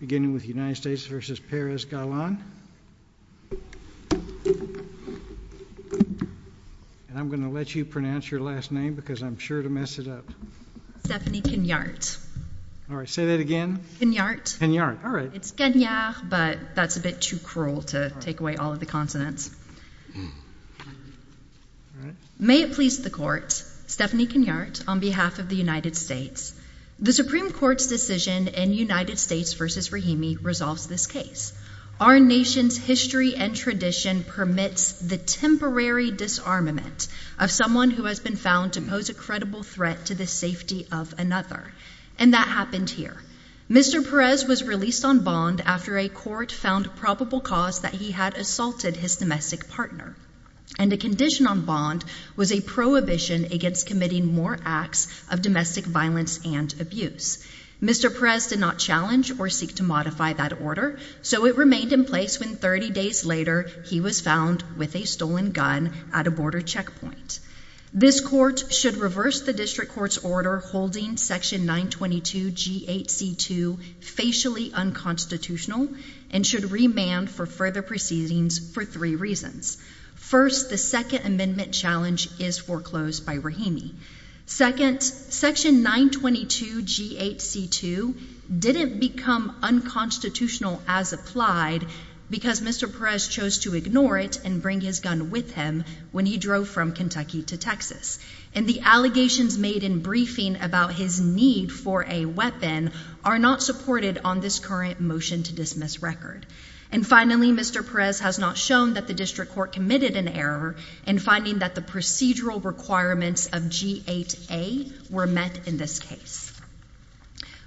Beginning with United States v. Perez-Gallan And I'm going to let you pronounce your last name because I'm sure to mess it up Stephanie Cagnart Alright, say that again Cagnart Cagnart, alright It's Cagnart but that's a bit too cruel to take away all of the consonants May it please the court, Stephanie Cagnart on behalf of the United States The Supreme Court's decision in United States v. Rahimi resolves this case Our nation's history and tradition permits the temporary disarmament of someone who has been found to pose a credible threat to the safety of another And that happened here Mr. Perez was released on bond after a court found probable cause that he had assaulted his domestic partner And a condition on bond was a prohibition against committing more acts of domestic violence and abuse Mr. Perez did not challenge or seek to modify that order So it remained in place when 30 days later he was found with a stolen gun at a border checkpoint This court should reverse the district court's order holding section 922G8C2 facially unconstitutional And should remand for further proceedings for three reasons First, the second amendment challenge is foreclosed by Rahimi Second, section 922G8C2 didn't become unconstitutional as applied because Mr. Perez chose to ignore it and bring his gun with him when he drove from Kentucky to Texas And the allegations made in briefing about his need for a weapon are not supported on this current motion to dismiss record And finally, Mr. Perez has not shown that the district court committed an error in finding that the procedural requirements of G8A were met in this case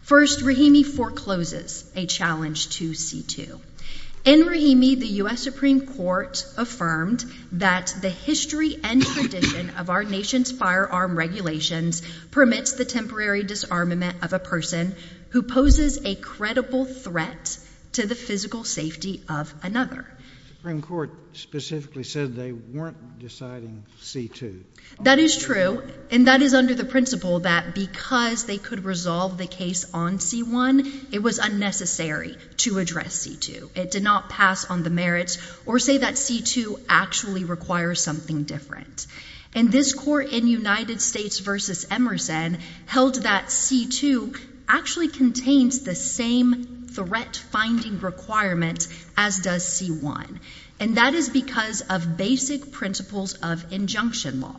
First, Rahimi forecloses a challenge to C2 In Rahimi, the U.S. Supreme Court affirmed that the history and tradition of our nation's firearm regulations permits the temporary disarmament of a person who poses a credible threat to the physical safety of another The Supreme Court specifically said they weren't deciding C2 That is true, and that is under the principle that because they could resolve the case on C1, it was unnecessary to address C2 It did not pass on the merits or say that C2 actually requires something different And this court in United States v. Emerson held that C2 actually contains the same threat-finding requirements as does C1 And that is because of basic principles of injunction law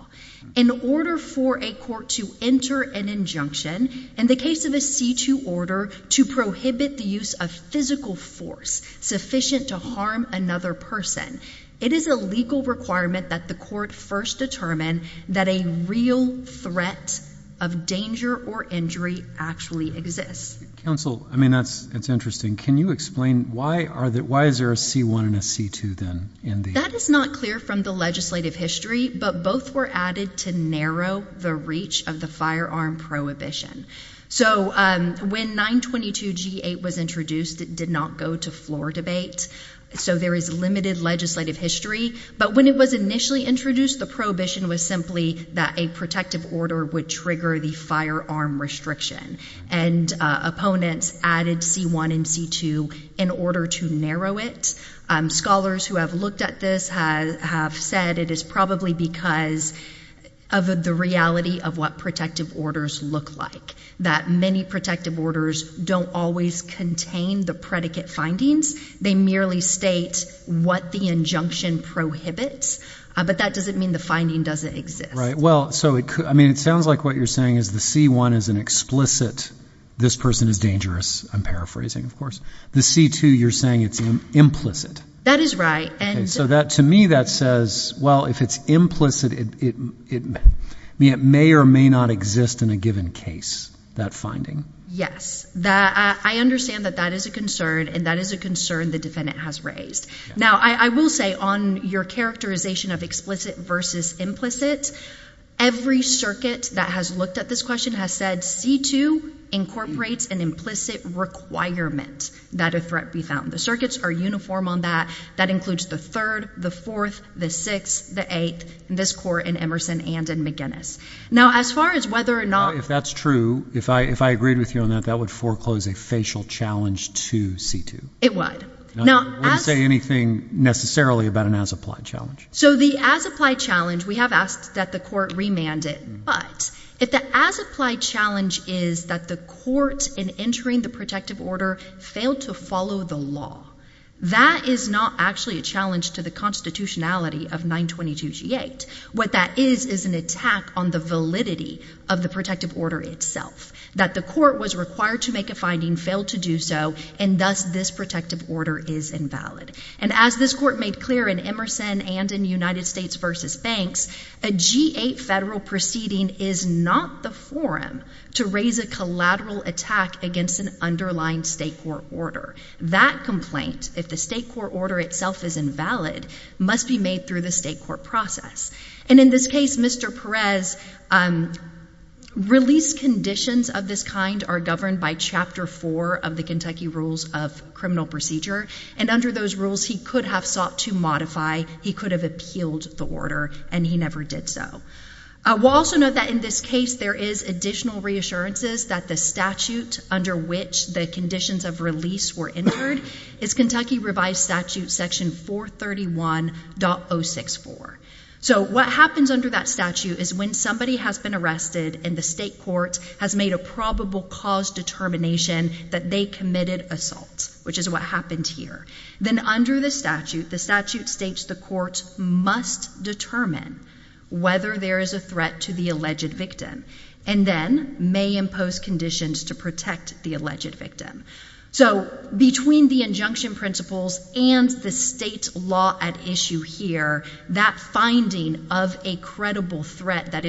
In order for a court to enter an injunction, in the case of a C2 order, to prohibit the use of physical force sufficient to harm another person It is a legal requirement that the court first determine that a real threat of danger or injury actually exists Counsel, I mean, that's interesting. Can you explain why is there a C1 and a C2 then? That is not clear from the legislative history, but both were added to narrow the reach of the firearm prohibition So when 922G8 was introduced, it did not go to floor debate So there is limited legislative history But when it was initially introduced, the prohibition was simply that a protective order would trigger the firearm restriction And opponents added C1 and C2 in order to narrow it Scholars who have looked at this have said it is probably because of the reality of what protective orders look like That many protective orders don't always contain the predicate findings They merely state what the injunction prohibits But that doesn't mean the finding doesn't exist It sounds like what you're saying is the C1 is an explicit, this person is dangerous, I'm paraphrasing, of course The C2, you're saying it's implicit That is right So to me that says, well, if it's implicit, it may or may not exist in a given case, that finding Yes, I understand that that is a concern, and that is a concern the defendant has raised Now I will say on your characterization of explicit versus implicit Every circuit that has looked at this question has said C2 incorporates an implicit requirement that a threat be found The circuits are uniform on that That includes the 3rd, the 4th, the 6th, the 8th, this court in Emerson and in McInnes Now as far as whether or not Now if that's true, if I agreed with you on that, that would foreclose a facial challenge to C2 It would I wouldn't say anything necessarily about an as-applied challenge So the as-applied challenge, we have asked that the court remand it But if the as-applied challenge is that the court in entering the protective order failed to follow the law That is not actually a challenge to the constitutionality of 922G8 What that is is an attack on the validity of the protective order itself That the court was required to make a finding, failed to do so, and thus this protective order is invalid And as this court made clear in Emerson and in United States v. Banks A G8 federal proceeding is not the forum to raise a collateral attack against an underlying state court order That complaint, if the state court order itself is invalid, must be made through the state court process And in this case, Mr. Perez, release conditions of this kind are governed by Chapter 4 of the Kentucky Rules of Criminal Procedure And under those rules, he could have sought to modify, he could have appealed the order, and he never did so We'll also note that in this case, there is additional reassurances that the statute under which the conditions of release were entered Is Kentucky Revised Statute Section 431.064 So what happens under that statute is when somebody has been arrested and the state court has made a probable cause determination That they committed assault, which is what happened here Then under the statute, the statute states the court must determine whether there is a threat to the alleged victim And then may impose conditions to protect the alleged victim So between the injunction principles and the state law at issue here That finding of a credible threat that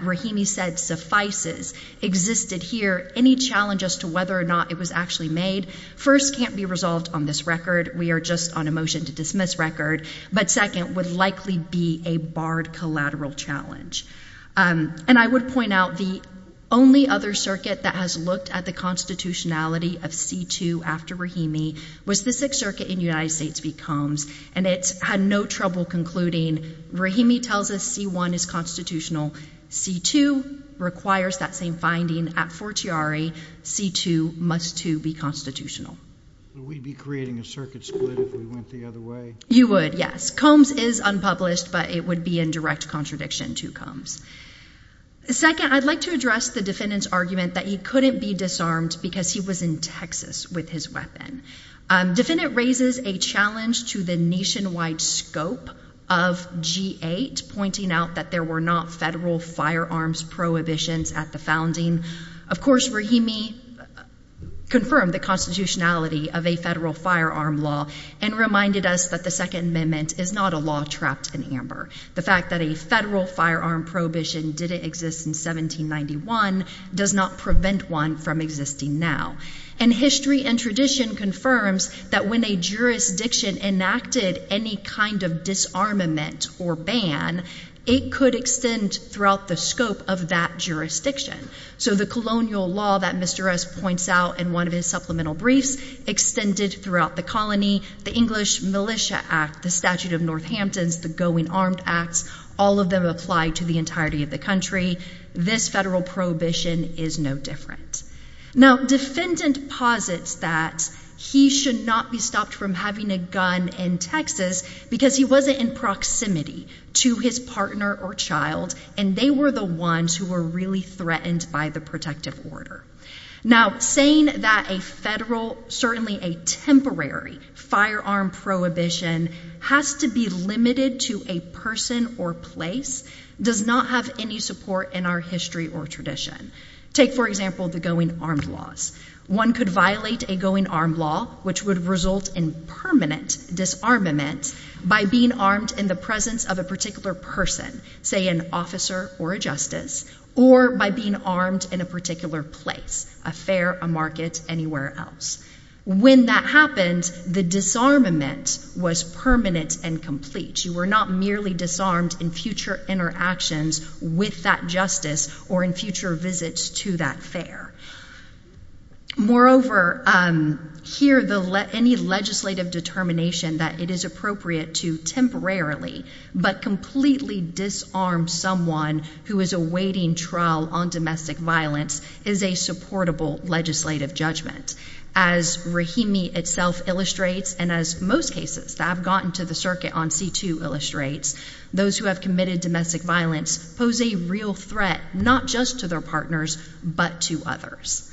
Rahimi said suffices existed here Any challenge as to whether or not it was actually made, first, can't be resolved on this record We are just on a motion to dismiss record But second, would likely be a barred collateral challenge And I would point out the only other circuit that has looked at the constitutionality of C2 after Rahimi Was the 6th Circuit in the United States v. Combs And it had no trouble concluding Rahimi tells us C1 is constitutional C2 requires that same finding at Fortiari C2 must too be constitutional We'd be creating a circuit split if we went the other way You would, yes So Combs is unpublished, but it would be in direct contradiction to Combs Second, I'd like to address the defendant's argument that he couldn't be disarmed Because he was in Texas with his weapon Defendant raises a challenge to the nationwide scope of G8 Pointing out that there were not federal firearms prohibitions at the founding Of course, Rahimi confirmed the constitutionality of a federal firearm law And reminded us that the Second Amendment is not a law trapped in amber The fact that a federal firearm prohibition didn't exist in 1791 Does not prevent one from existing now And history and tradition confirms that when a jurisdiction enacted any kind of disarmament or ban It could extend throughout the scope of that jurisdiction So the colonial law that Mr. S. points out in one of his supplemental briefs Extended throughout the colony The English Militia Act, the Statute of Northamptons, the Going Armed Act All of them apply to the entirety of the country This federal prohibition is no different Now, defendant posits that he should not be stopped from having a gun in Texas Because he wasn't in proximity to his partner or child And they were the ones who were really threatened by the protective order Now, saying that a federal, certainly a temporary, firearm prohibition Has to be limited to a person or place Does not have any support in our history or tradition Take, for example, the going armed laws One could violate a going armed law, which would result in permanent disarmament By being armed in the presence of a particular person Say, an officer or a justice Or by being armed in a particular place A fair, a market, anywhere else When that happens, the disarmament was permanent and complete You were not merely disarmed in future interactions with that justice Or in future visits to that fair Moreover, here any legislative determination that it is appropriate to temporarily But completely disarm someone who is awaiting trial on domestic violence Is a supportable legislative judgment As Rahimi itself illustrates And as most cases that have gotten to the circuit on C2 illustrates Those who have committed domestic violence pose a real threat Not just to their partners, but to others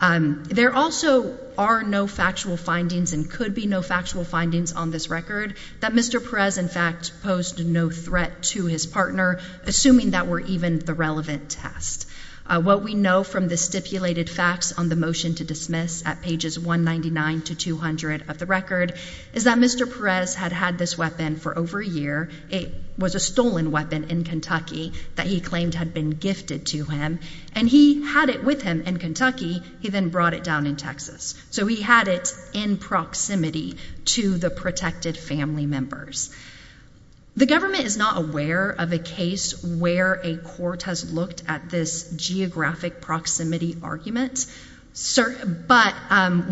There also are no factual findings And could be no factual findings on this record That Mr. Perez, in fact, posed no threat to his partner Assuming that were even the relevant test What we know from the stipulated facts on the motion to dismiss At pages 199 to 200 of the record Is that Mr. Perez had had this weapon for over a year It was a stolen weapon in Kentucky That he claimed had been gifted to him And he had it with him in Kentucky He then brought it down in Texas So he had it in proximity to the protected family members The government is not aware of a case Where a court has looked at this geographic proximity argument But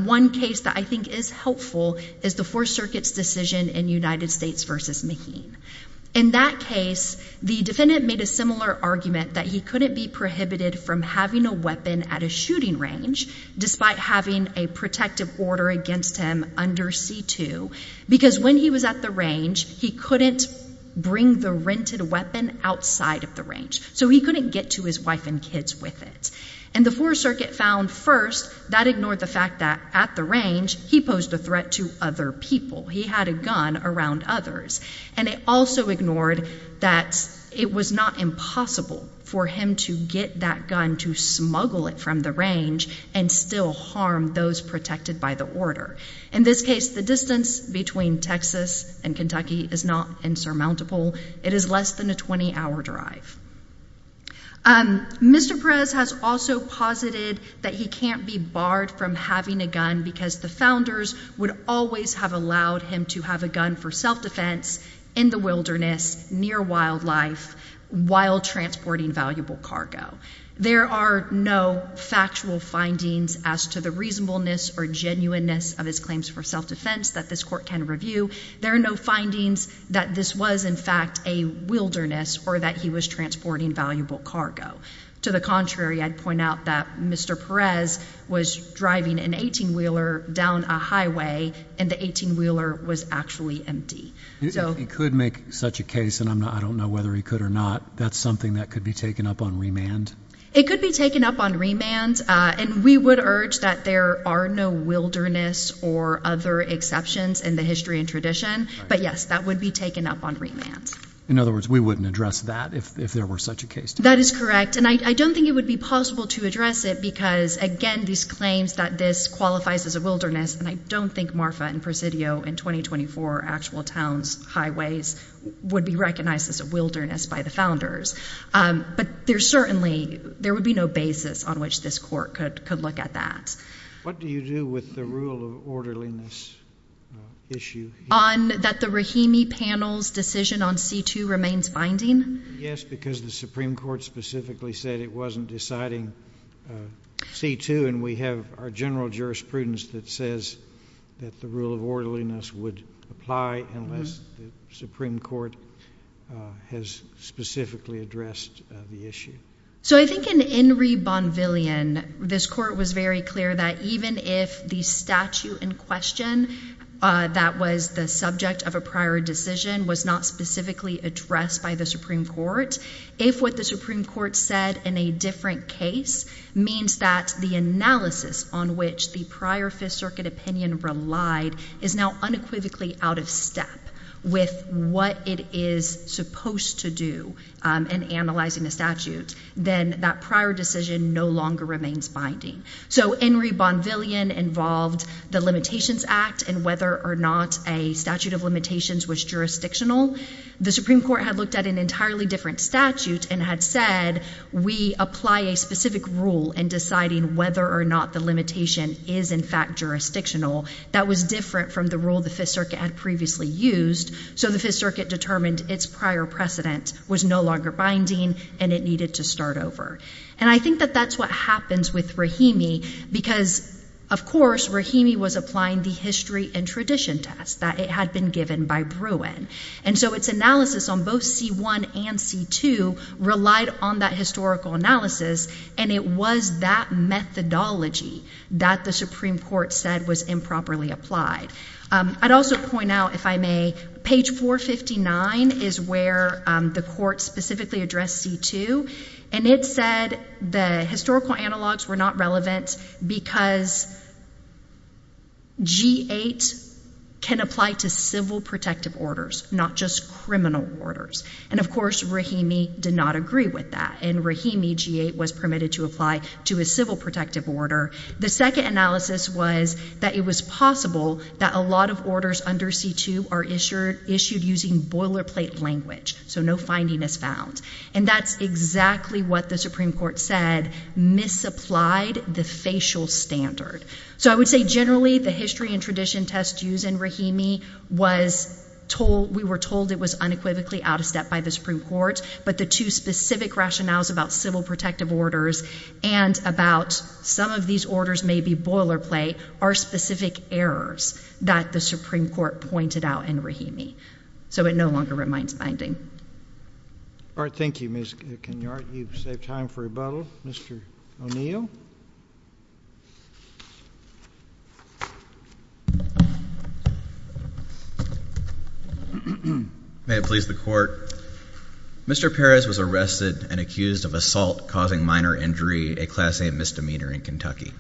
one case that I think is helpful Is the Fourth Circuit's decision in United States v. Maheen In that case, the defendant made a similar argument That he couldn't be prohibited from having a weapon at a shooting range Despite having a protective order against him under C-2 Because when he was at the range He couldn't bring the rented weapon outside of the range So he couldn't get to his wife and kids with it And the Fourth Circuit found first That ignored the fact that at the range He posed a threat to other people He had a gun around others And it also ignored that it was not impossible For him to get that gun to smuggle it from the range And still harm those protected by the order In this case, the distance between Texas and Kentucky Is not insurmountable It is less than a 20-hour drive Mr. Perez has also posited That he can't be barred from having a gun Because the founders would always have allowed him To have a gun for self-defense In the wilderness, near wildlife While transporting valuable cargo There are no factual findings As to the reasonableness or genuineness Of his claims for self-defense That this court can review There are no findings that this was in fact a wilderness Or that he was transporting valuable cargo To the contrary, I'd point out that Mr. Perez was driving an 18-wheeler down a highway And the 18-wheeler was actually empty He could make such a case And I don't know whether he could or not That's something that could be taken up on remand? It could be taken up on remand And we would urge that there are no wilderness Or other exceptions in the history and tradition But yes, that would be taken up on remand In other words, we wouldn't address that If there were such a case That is correct And I don't think it would be possible to address it Because again, these claims That this qualifies as a wilderness And I don't think Marfa and Presidio In 2024 actual towns, highways Would be recognized as a wilderness by the founders But there certainly There would be no basis on which this court Could look at that What do you do with the rule of orderliness issue? That the Rahimi panel's decision on C-2 remains binding? Yes, because the Supreme Court Specifically said it wasn't deciding C-2 And we have our general jurisprudence That says that the rule of orderliness Would apply unless the Supreme Court Has specifically addressed the issue So I think in Enri Bonvillian This court was very clear that Even if the statute in question That was the subject of a prior decision Was not specifically addressed by the Supreme Court If what the Supreme Court said In a different case Means that the analysis On which the prior Fifth Circuit opinion relied Is now unequivocally out of step With what it is supposed to do In analyzing the statute Then that prior decision no longer remains binding So Enri Bonvillian involved the Limitations Act And whether or not a statute of limitations Was jurisdictional The Supreme Court had looked at an entirely different statute And had said We apply a specific rule In deciding whether or not the limitation Is in fact jurisdictional That was different from the rule The Fifth Circuit had previously used So the Fifth Circuit determined Its prior precedent was no longer binding And it needed to start over And I think that that's what happens with Rahimi Because of course Rahimi was applying The history and tradition test That it had been given by Bruin And so its analysis on both C-1 and C-2 Relied on that historical analysis And it was that methodology That the Supreme Court said Was improperly applied I'd also point out if I may Page 459 is where The Court specifically addressed C-2 And it said the historical analogs Were not relevant Because G-8 Can apply to civil protective orders Not just criminal orders And of course Rahimi did not agree with that And Rahimi G-8 was permitted to apply To a civil protective order The second analysis was That it was possible that a lot of orders Under C-2 are issued Using boilerplate language So no finding is found And that's exactly what the Supreme Court said Misapplied the facial standard So I would say generally the history and tradition test Used in Rahimi We were told it was unequivocally Out of step by the Supreme Court But the two specific rationales About civil protective orders And about some of these orders May be boilerplate Are specific errors That the Supreme Court pointed out in Rahimi So it no longer remains binding All right, thank you Ms. Kenyart You've saved time for rebuttal Mr. O'Neill May it please the Court Mr. Perez was arrested And accused of assault Causing minor injury, a Class A misdemeanor In Kentucky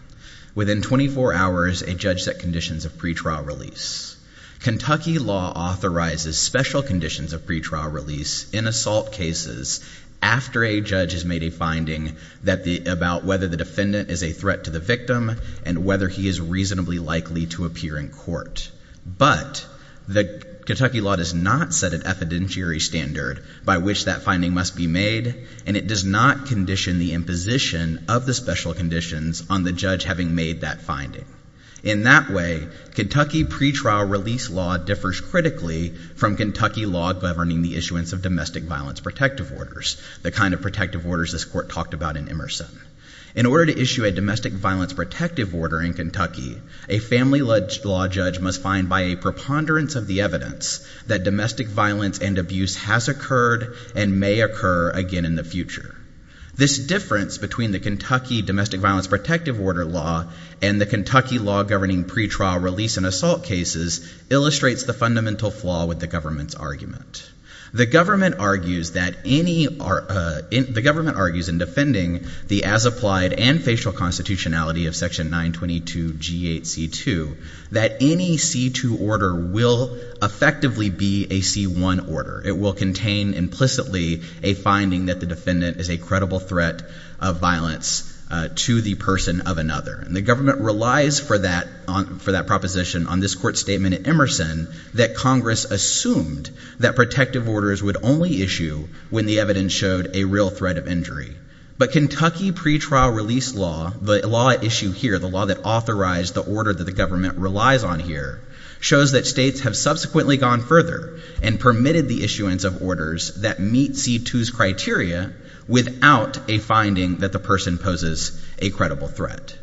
Within 24 hours a judge set conditions Of pretrial release Kentucky law authorizes special conditions Of pretrial release in assault cases After a judge has made a finding About whether the defendant Is a threat to the victim And whether he is reasonably likely To appear in court But the Kentucky law Does not set an evidentiary standard By which that finding must be made And it does not condition The imposition of the special conditions On the judge having made that finding In that way Kentucky pretrial release law Differs critically from Kentucky law Governing the issuance of domestic violence Protective orders, the kind of protective orders This Court talked about in Emerson In order to issue a domestic violence Protective order in Kentucky A family-ledged law judge must find By a preponderance of the evidence That domestic violence and abuse Has occurred and may occur Again in the future This difference between the Kentucky Domestic violence protective order law And the Kentucky law governing Pretrial release in assault cases Illustrates the fundamental flaw With the government's argument The government argues that any The government argues in defending The as-applied and facial constitutionality Of section 922 G8C2 That any C2 order Will effectively be a C1 order It will contain implicitly A finding that the defendant Is a credible threat of violence To the person of another And the government relies For that proposition on this Court statement at Emerson That Congress assumed that protective Orders would only issue when the Evidence showed a real threat of injury But Kentucky pretrial release law The law at issue here The law that authorized the order That the government relies on here Shows that states have subsequently gone further And permitted the issuance of orders That meet C2's criteria Without a finding that the Person poses a credible threat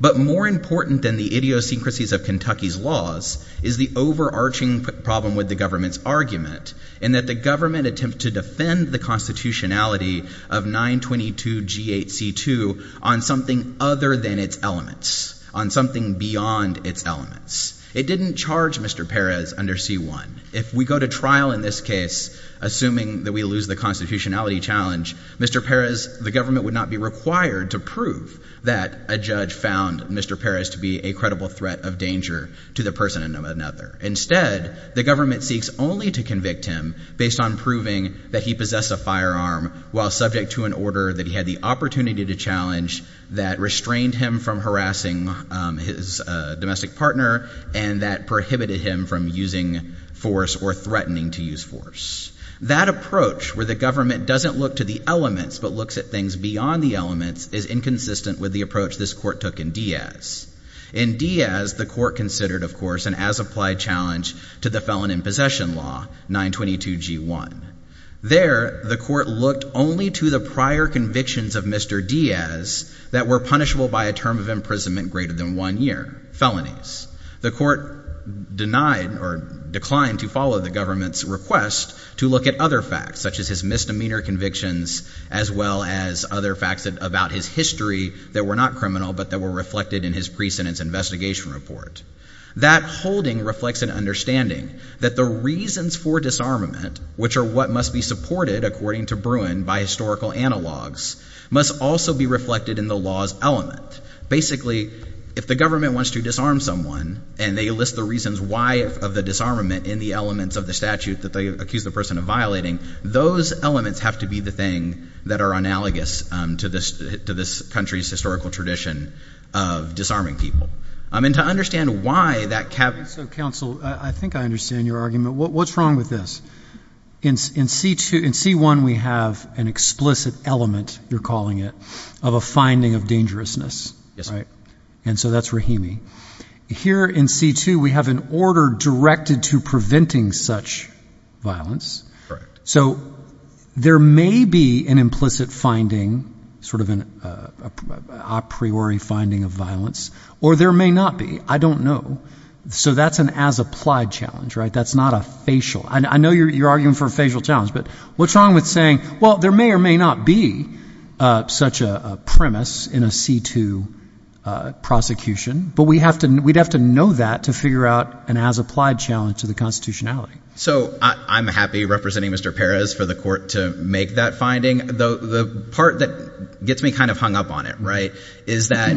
But more important Than the idiosyncrasies of Kentucky's laws Is the overarching problem With the government's argument In that the government attempts to defend The constitutionality of 922 G8C2 On something other than its elements On something beyond Its elements. It didn't charge Mr. Perez under C1 If we go to trial in this case Assuming that we lose the constitutionality challenge Mr. Perez, the government Would not be required to prove That a judge found Mr. Perez To be a credible threat of danger To the person of another. Instead The government seeks only to convict him Based on proving that he Possessed a firearm while subject to An order that he had the opportunity to Challenge that restrained him from Harassing his Domestic partner and that prohibited Him from using force Or threatening to use force. That approach where the government doesn't Look to the elements but looks at things Beyond the elements is inconsistent With the approach this court took in Diaz. In Diaz the court considered Of course an as applied challenge To the felon in possession law 922 G1. There The court looked only to the prior Convictions of Mr. Diaz That were punishable by a term of Imprisonment greater than one year. Felonies. The court Denied or declined to follow The government's request to look at Other facts such as his misdemeanor convictions As well as other facts About his history that were not Criminal but that were reflected in his Pre-sentence investigation report. That holding reflects an understanding That the reasons for disarmament Which are what must be supported according To Bruin by historical analogs Must also be reflected in the Law's element. Basically If the government wants to disarm someone And they list the reasons why Of the disarmament in the elements of the statute That they accuse the person of violating Those elements have to be the thing That are analogous to this To this country's historical tradition Of disarming people. And to understand why that So counsel I think I understand your What's wrong with this? In C1 we have An explicit element you're calling it Of a finding of dangerousness And so that's Rahimi Here in C2 We have an order directed to Preventing such violence So There may be an implicit Finding sort of an A priori finding of violence Or there may not be I don't know. So that's an As applied challenge right? That's not a Facial. I know you're arguing for a facial Challenge but what's wrong with saying Well there may or may not be Such a premise in a C2 Prosecution But we'd have to know that To figure out an as applied challenge To the constitutionality. So I'm happy representing Mr. Perez for the court To make that finding The part that gets me kind of hung up On it right is that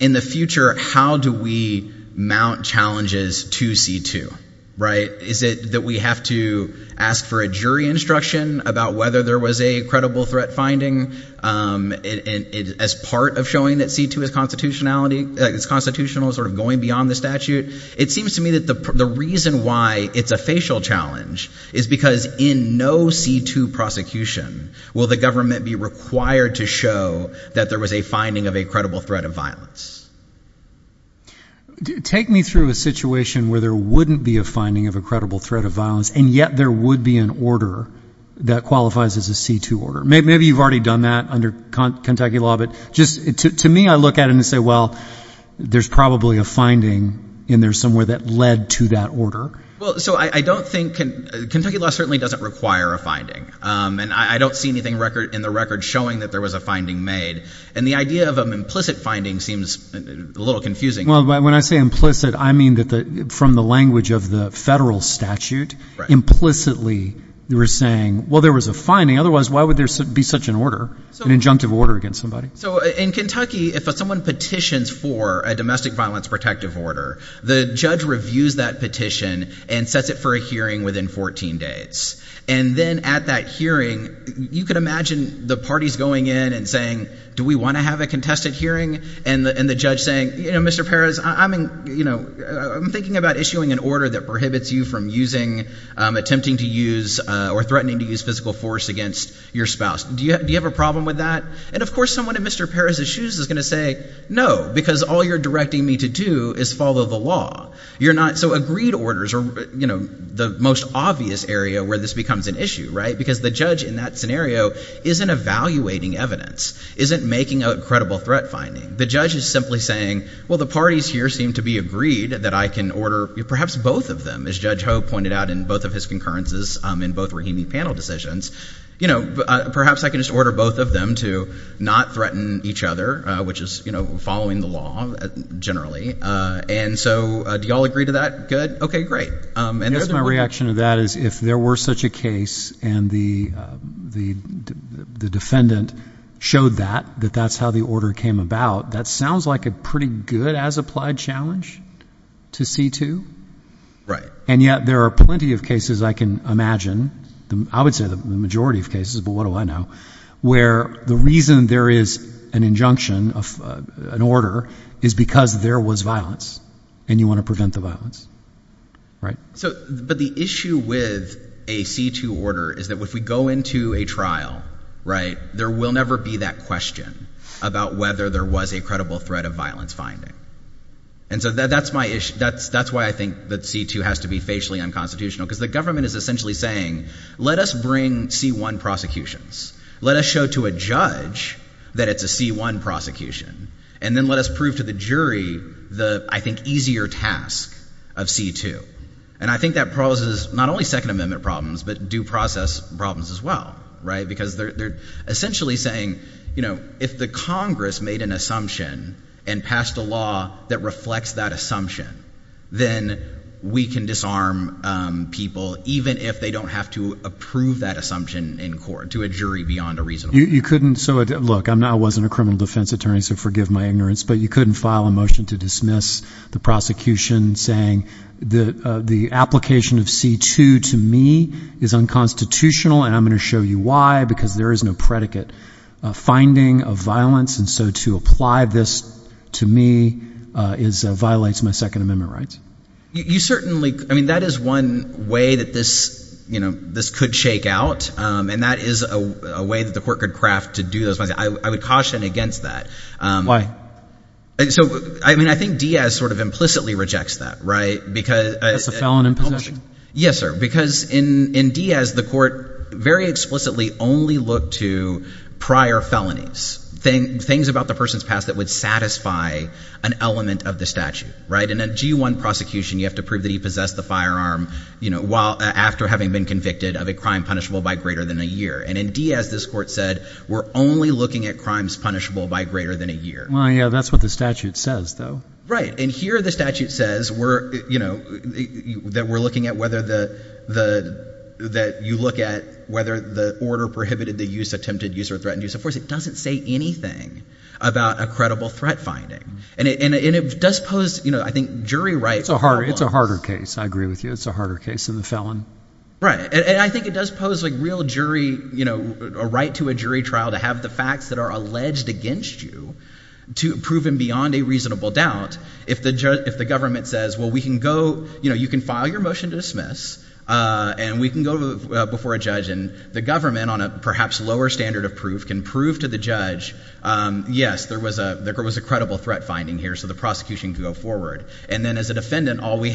In the future how do we Mount challenges to C2 right? Is it that We have to ask for a jury Instruction about whether there was a Credible threat finding As part of showing that C2 is constitutional Sort of going beyond the statute It seems to me that the reason why It's a facial challenge Is because in no C2 Prosecution will the government be Required to show that there Was a finding of a credible threat of violence Take me through A situation where there wouldn't be a Finding of a credible threat of violence And yet there would be an order That qualifies as a C2 order Maybe you've already done that under Kentucky law but just to me I look at it and say well There's probably a finding in there somewhere That led to that order Well so I don't think Kentucky law certainly doesn't require a finding And I don't see anything in the record Showing that there was a finding made And the idea of an implicit finding Seems a little confusing Well when I say implicit I mean From the language of the federal statute Implicitly We're saying well there was a finding Otherwise why would there be such an order An injunctive order against somebody So in Kentucky if someone petitions for A domestic violence protective order The judge reviews that petition And sets it for a hearing within 14 days And then at that hearing You can imagine The parties going in and saying Do we want to have a contested hearing And the judge saying Mr. Perez I'm thinking about Issuing an order that prohibits you from Attempting to use Or threatening to use physical force Against your spouse Do you have a problem with that And of course someone in Mr. Perez's shoes is going to say No because all you're directing me to do Is follow the law So agreed orders are the most obvious Area where this becomes an issue Because the judge in that scenario Isn't evaluating evidence Isn't making a credible threat finding The judge is simply saying Well the parties here seem to be agreed That I can order perhaps both of them As Judge Ho pointed out in both of his concurrences In both Rahimi panel decisions Perhaps I can just order both of them To not threaten each other Which is following the law Generally And so do you all agree to that Good okay great I guess my reaction to that is If there were such a case And the defendant Showed that That that's how the order came about That sounds like a pretty good as applied challenge To see to Right And yet there are plenty of cases I can imagine I would say the majority of cases But what do I know Where the reason there is an injunction Of an order Is because there was violence And you want to prevent the violence Right But the issue with a C2 order Is that if we go into a trial Right There will never be that question About whether there was a credible threat of violence finding And so that's my issue That's why I think that C2 has to be Facially unconstitutional Because the government is essentially saying Let us bring C1 prosecutions Let us show to a judge That it's a C1 prosecution And then let us prove to the jury The, I think, easier task Of C2 And I think that poses not only second amendment problems But due process problems as well Right Because they're essentially saying If the congress made an assumption And passed a law that reflects that assumption Then We can disarm people Even if they don't have to approve That assumption in court To a jury beyond a reasonable You couldn't, so look I wasn't a criminal defense attorney so forgive my ignorance But you couldn't file a motion to dismiss The prosecution saying The application of C2 To me is unconstitutional And I'm going to show you why Because there is no predicate Finding of violence And so to apply this to me Is, violates my second amendment rights You certainly I mean that is one way that this You know, this could shake out And that is a way that the court Could craft to do those I would caution against that Why? I mean I think Diaz sort of implicitly rejects that Right, because That's a felon in possession Yes sir, because in Diaz the court Very explicitly only looked to Prior felonies Things about the person's past that would satisfy An element of the statute Right, in a G1 prosecution you have to prove that he Possessed the firearm You know, after having been convicted Of a crime punishable by greater than a year And in Diaz this court said We're only looking at crimes punishable by Greater than a year Well yeah, that's what the statute says though Right, and here the statute says That we're looking at whether That you look at Whether the order prohibited the use Attempted use or threatened use of force It doesn't say anything About a credible threat finding And it does pose, I think, jury rights It's a harder case, I agree with you It's a harder case than the felon Right, and I think it does pose like real jury You know, a right to a jury trial To have the facts that are alleged against you Proven beyond A reasonable doubt If the government says You can file your motion to dismiss And we can go before a judge And the government, on a perhaps Lower standard of proof, can prove to the judge Yes, there was A credible threat finding here So the prosecution could go forward And then as a defendant, all we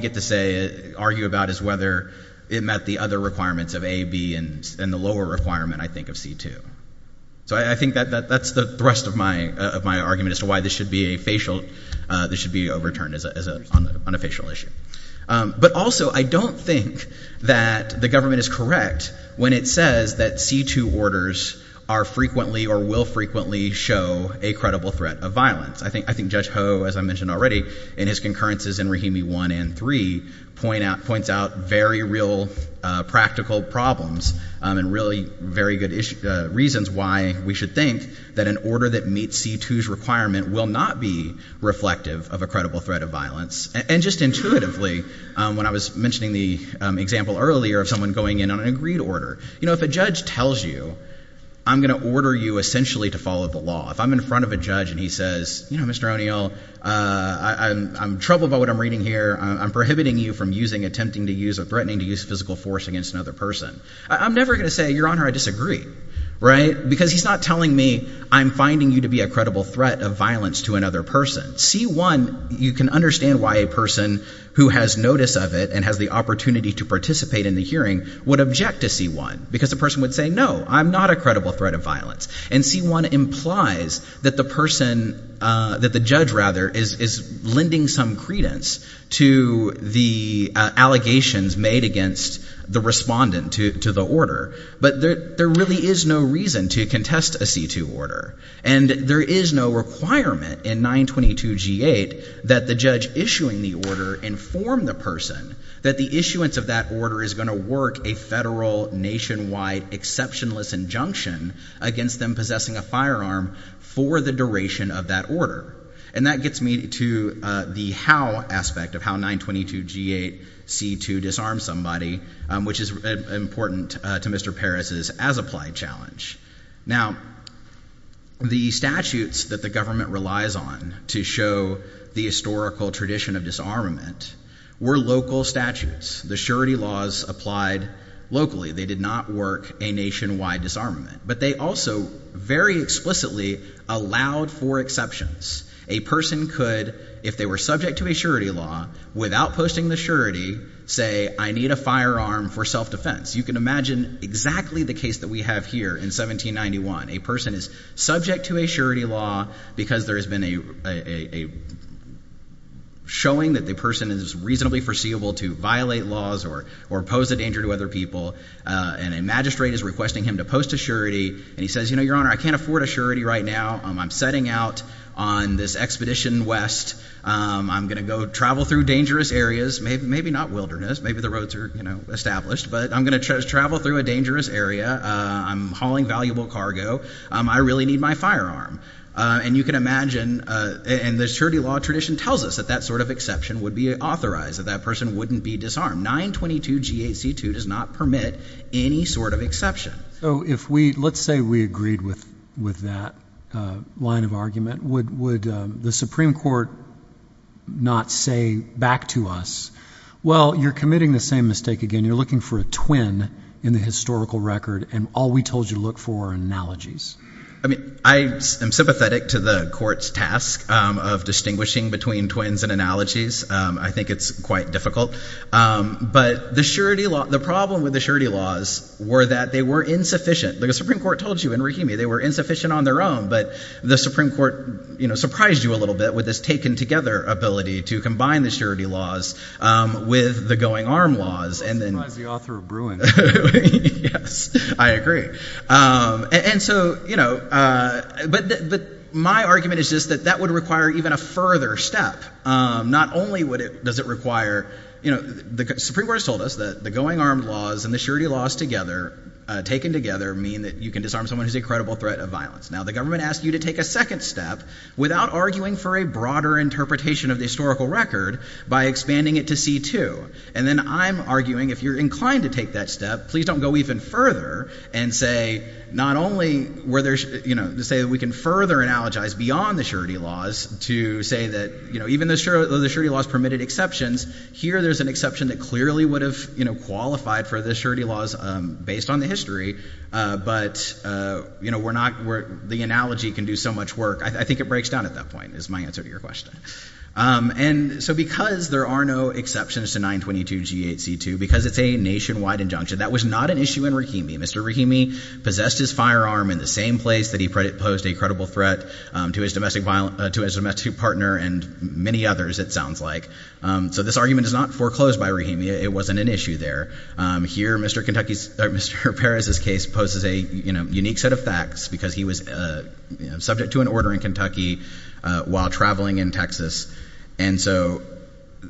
get to say Argue about is whether It met the other requirements of A, B And the lower requirement, I think, of C2 So I think that's The rest of my argument As to why this should be overturned On a facial issue But also, I don't think That the government is correct When it says that C2 Orders are frequently Or will frequently show A credible threat of violence I think Judge Ho, as I mentioned already In his concurrences in Rahimi 1 and 3 Points out very real Practical problems And really very good Reasons why we should think That an order that meets C2's requirement Will not be reflective Of a credible threat of violence And just intuitively, when I was Mentioning the example earlier Of someone going in on an agreed order You know, if a judge tells you I'm going to order you essentially To follow the law, if I'm in front of a judge And he says, you know, Mr. O'Neill I'm troubled by what I'm reading here I'm prohibiting you from using, attempting To use, or threatening to use physical force Against another person, I'm never going to say Your Honor, I disagree, right? Because he's not telling me I'm finding you To be a credible threat of violence to another Person. C1, you can Understand why a person who has Notice of it and has the opportunity to Participate in the hearing would object to C1, because the person would say, no, I'm Not a credible threat of violence, and C1 Implies that the person That the judge, rather, is Lending some credence To the Allegations made against the Respondent to the order, but There really is no reason to Contest a C2 order, and There is no requirement in 922 G8 that the judge Issuing the order inform the Person that the issuance of that Order is going to work a federal Nationwide exceptionless Injunction against them possessing A firearm for the duration Of that order, and that gets me To the how aspect Of how 922 G8 C2 disarms somebody, which Is important to Mr. Paris's as-applied challenge. Now, the Statutes that the government relies on To show the historical Tradition of disarmament Were local statutes. The surety laws applied locally. They did not work a nationwide Disarmament, but they also Very explicitly allowed For exceptions. A person Could, if they were subject to a surety Law, without posting the surety Say, I need a firearm For self-defense. You can imagine Exactly the case that we have here in 1791. A person is subject To a surety law because there has been A Showing That the person is reasonably foreseeable to Violate laws or pose a danger To other people, and a magistrate Is requesting him to post a surety, and He says, you know, your honor, I can't afford a surety right now. I'm setting out on This expedition west. I'm going to go travel through dangerous areas. Maybe not wilderness. Maybe the roads Are, you know, established, but I'm going to Travel through a dangerous area. I'm hauling valuable cargo. I really need my firearm. And you can imagine, And the surety law tradition tells us that That sort of exception would be authorized. That person wouldn't be disarmed. 922 G.H.C. 2 does not permit Any sort of exception. Let's say we agreed with That line of argument. Would the supreme court Not say Back to us, well, You're committing the same mistake again. You're looking for A twin in the historical record, And all we told you to look for are analogies. I mean, I am sympathetic To the court's task of Distinguishing between twins and analogies. I think it's quite difficult. But the surety law, The problem with the surety laws Were that they were insufficient. Like the supreme court told you in Rahimi, they were insufficient on their own. But the supreme court, you know, Surprised you a little bit with this taken together Ability to combine the surety laws With the going arm laws. Surprised the author of Bruin. I agree. And so, you know, But my argument is That that would require even a further step. Not only does it require You know, the supreme court Has told us that the going arm laws And the surety laws together, taken together Mean that you can disarm someone Who's a credible threat of violence. Now, the government asks you to take a second step Without arguing for a broader interpretation Of the historical record by expanding it to C.2. And then I'm arguing If you're inclined to take that step, Please don't go even further And say not only were there You know, say that we can further Analogize beyond the surety laws To say that, you know, even though the surety laws Permitted exceptions, here there's an exception That clearly would have, you know, Qualified for the surety laws based on the history But, you know, We're not, the analogy Can do so much work. I think it breaks down At that point, is my answer to your question. And so because there are no Exceptions to 922 g.8.c.2 Because it's a nationwide injunction That was not an issue in Rahimi. Mr. Rahimi Possessed his firearm in the same place That he posed a credible threat To his domestic partner And many others, it sounds like. So this argument is not foreclosed by Rahimi It wasn't an issue there. Here, Mr. Paris' case Poses a unique set of facts Because he was Subject to an order in Kentucky While traveling in Texas And so,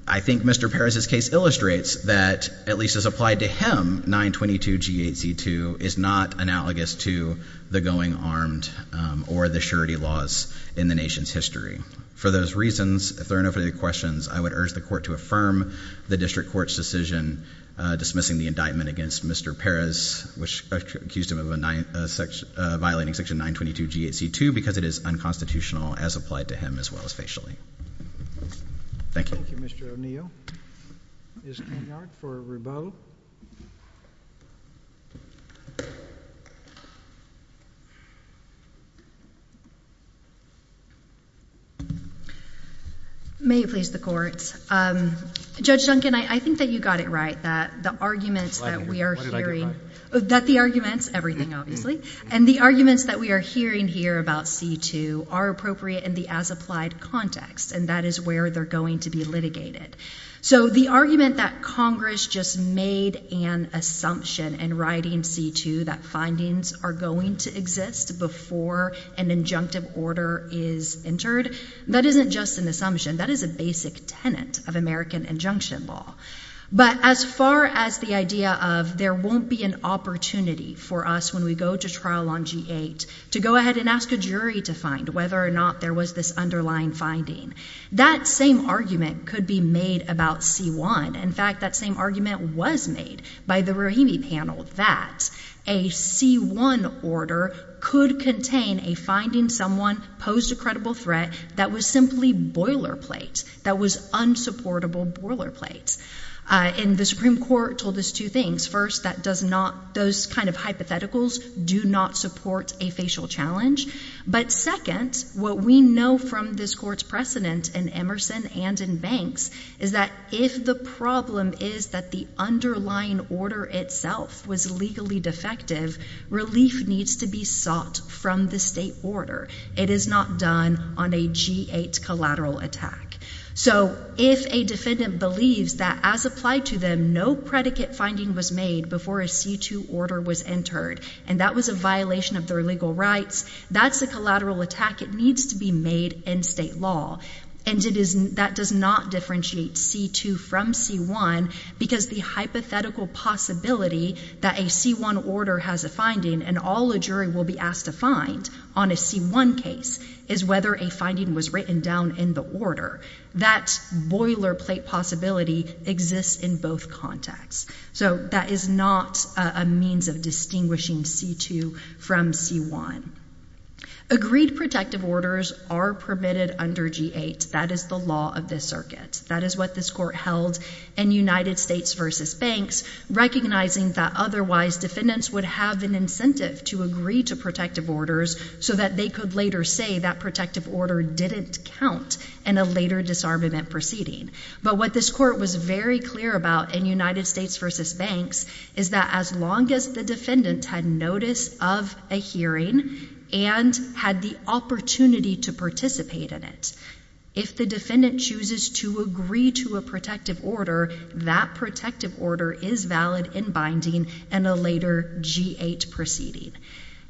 I think Mr. Paris' Case illustrates that, at least As applied to him, 922 g.8.c.2 Is not analogous to The going armed Or the surety laws in the Nation's history. For those reasons If there are no further questions, I would urge the court To affirm the district court's decision Dismissing the indictment against Mr. Paris, which accused him Of violating Section 922 g.8.c.2 because it is Unconstitutional as applied to him as well As facially. Thank you. Thank you, Mr. O'Neill. Ms. Kenyard for Rubeau. May it please the court Judge Duncan, I think that you got it right That the arguments that we are hearing What did I get right? Everything, obviously. And the arguments that we are Hearing here about c.2 Are appropriate in the as applied Context and that is where they are going to be Litigated. So the argument That Congress just made An assumption in writing C.2 that findings are going To exist before An injunctive order is Entered, that isn't just an assumption That is a basic tenant of American Injunction law. But as Far as the idea of there Won't be an opportunity for us When we go to trial on g.8. To go ahead and ask a jury to find Whether or not there was this underlying Finding. That same argument Could be made about c.1 In fact that same argument was made By the Rahimi panel that A c.1 Order could contain a Finding someone posed a credible threat That was simply boilerplate That was unsupportable Boilerplate. And the Supreme Court told us two things. First That does not, those kind of hypotheticals Do not support a facial Challenge. But second What we know from this court's precedent In Emerson and in Banks, is that if the problem Is that the underlying Order itself was legally Defective, relief needs to Be sought from the state order It is not done on a G.8 collateral attack. So if a defendant Believes that as applied to them No predicate finding was made before A c.2 order was entered And that was a violation of their legal rights That's a collateral attack It needs to be made in state law And that does not Differentiate c.2 from c.1 Because the hypothetical Possibility that a c.1 Order has a finding and all a jury Will be asked to find on a c.1 Case is whether a finding Was written down in the order That boilerplate possibility Exists in both contexts So that is not A means of distinguishing c.2 From c.1 Agreed protective orders Are permitted under g.8 That is the law of this circuit That is what this court held in United States versus Banks Recognizing that otherwise defendants Would have an incentive to agree To protective orders so that they Could later say that protective order Didn't count in a later Disarmament proceeding. But what this Court was very clear about in United States versus Banks is that as long As the defendant had notice Of a hearing and Had the opportunity to Participate in it If the defendant chooses to agree To a protective order That protective order is valid In binding in a later G.8 proceeding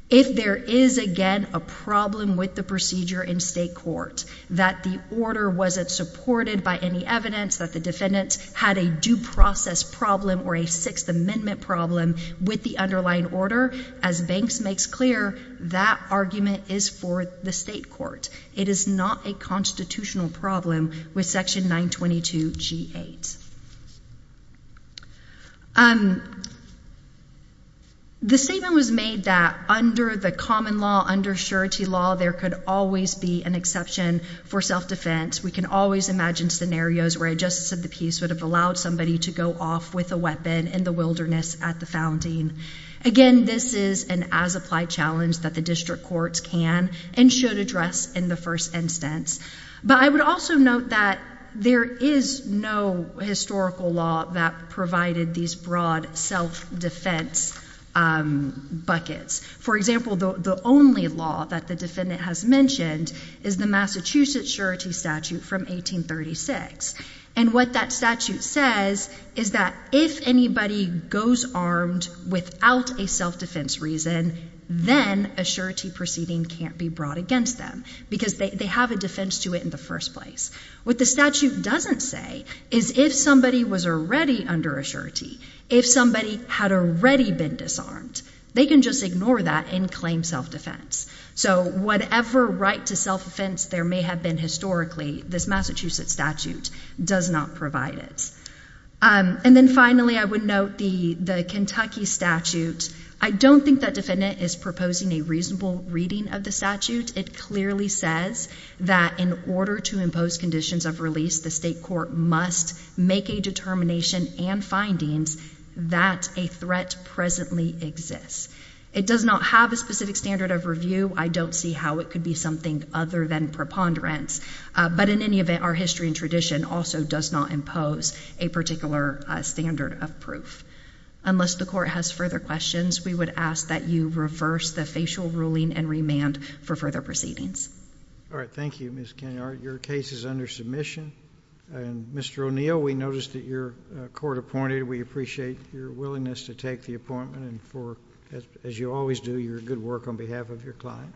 If there is again a problem With the procedure in state court That the order wasn't supported By any evidence that the defendant Had a due process problem or A sixth amendment problem with The underlying order as Banks Makes clear that argument Is for the state court It is not a constitutional problem With section 922 G.8 Um The statement Was made that under the common Law under surety law there could Always be an exception for Self-defense we can always imagine Scenarios where a justice of the peace would have Allowed somebody to go off with a weapon In the wilderness at the founding Again this is an as applied Challenge that the district courts can And should address in the first Instance but I would also Note that there is No historical law that Provided these broad self Defense Buckets for example the Only law that the defendant has Mentioned is the Massachusetts Surety statute from 1836 And what that statute Says is that if anybody Goes armed without A self-defense reason Then a surety proceeding Can't be brought against them because They have a defense to it in the first place What the statute doesn't say Is if somebody was already Under a surety if somebody Had already been disarmed They can just ignore that and claim Self-defense so whatever Right to self-defense there may have been Historically this Massachusetts statute Does not provide it And then finally I Would note the Kentucky Statute I don't think that defendant Is proposing a reasonable reading Of the statute it clearly says That in order to impose Conditions of release the state court Must make a determination And findings that A threat presently exists It does not have a specific standard Of review I don't see how it could be Something other than preponderance But in any event our history and tradition Also does not impose A particular standard of proof Unless the court has further Questions we would ask that you Reverse the facial ruling and remand For further proceedings Thank you Ms. Kenyard your case is under Submission and Mr. O'Neill We noticed that your court Appointed we appreciate your willingness To take the appointment and for As you always do your good work on behalf Of your client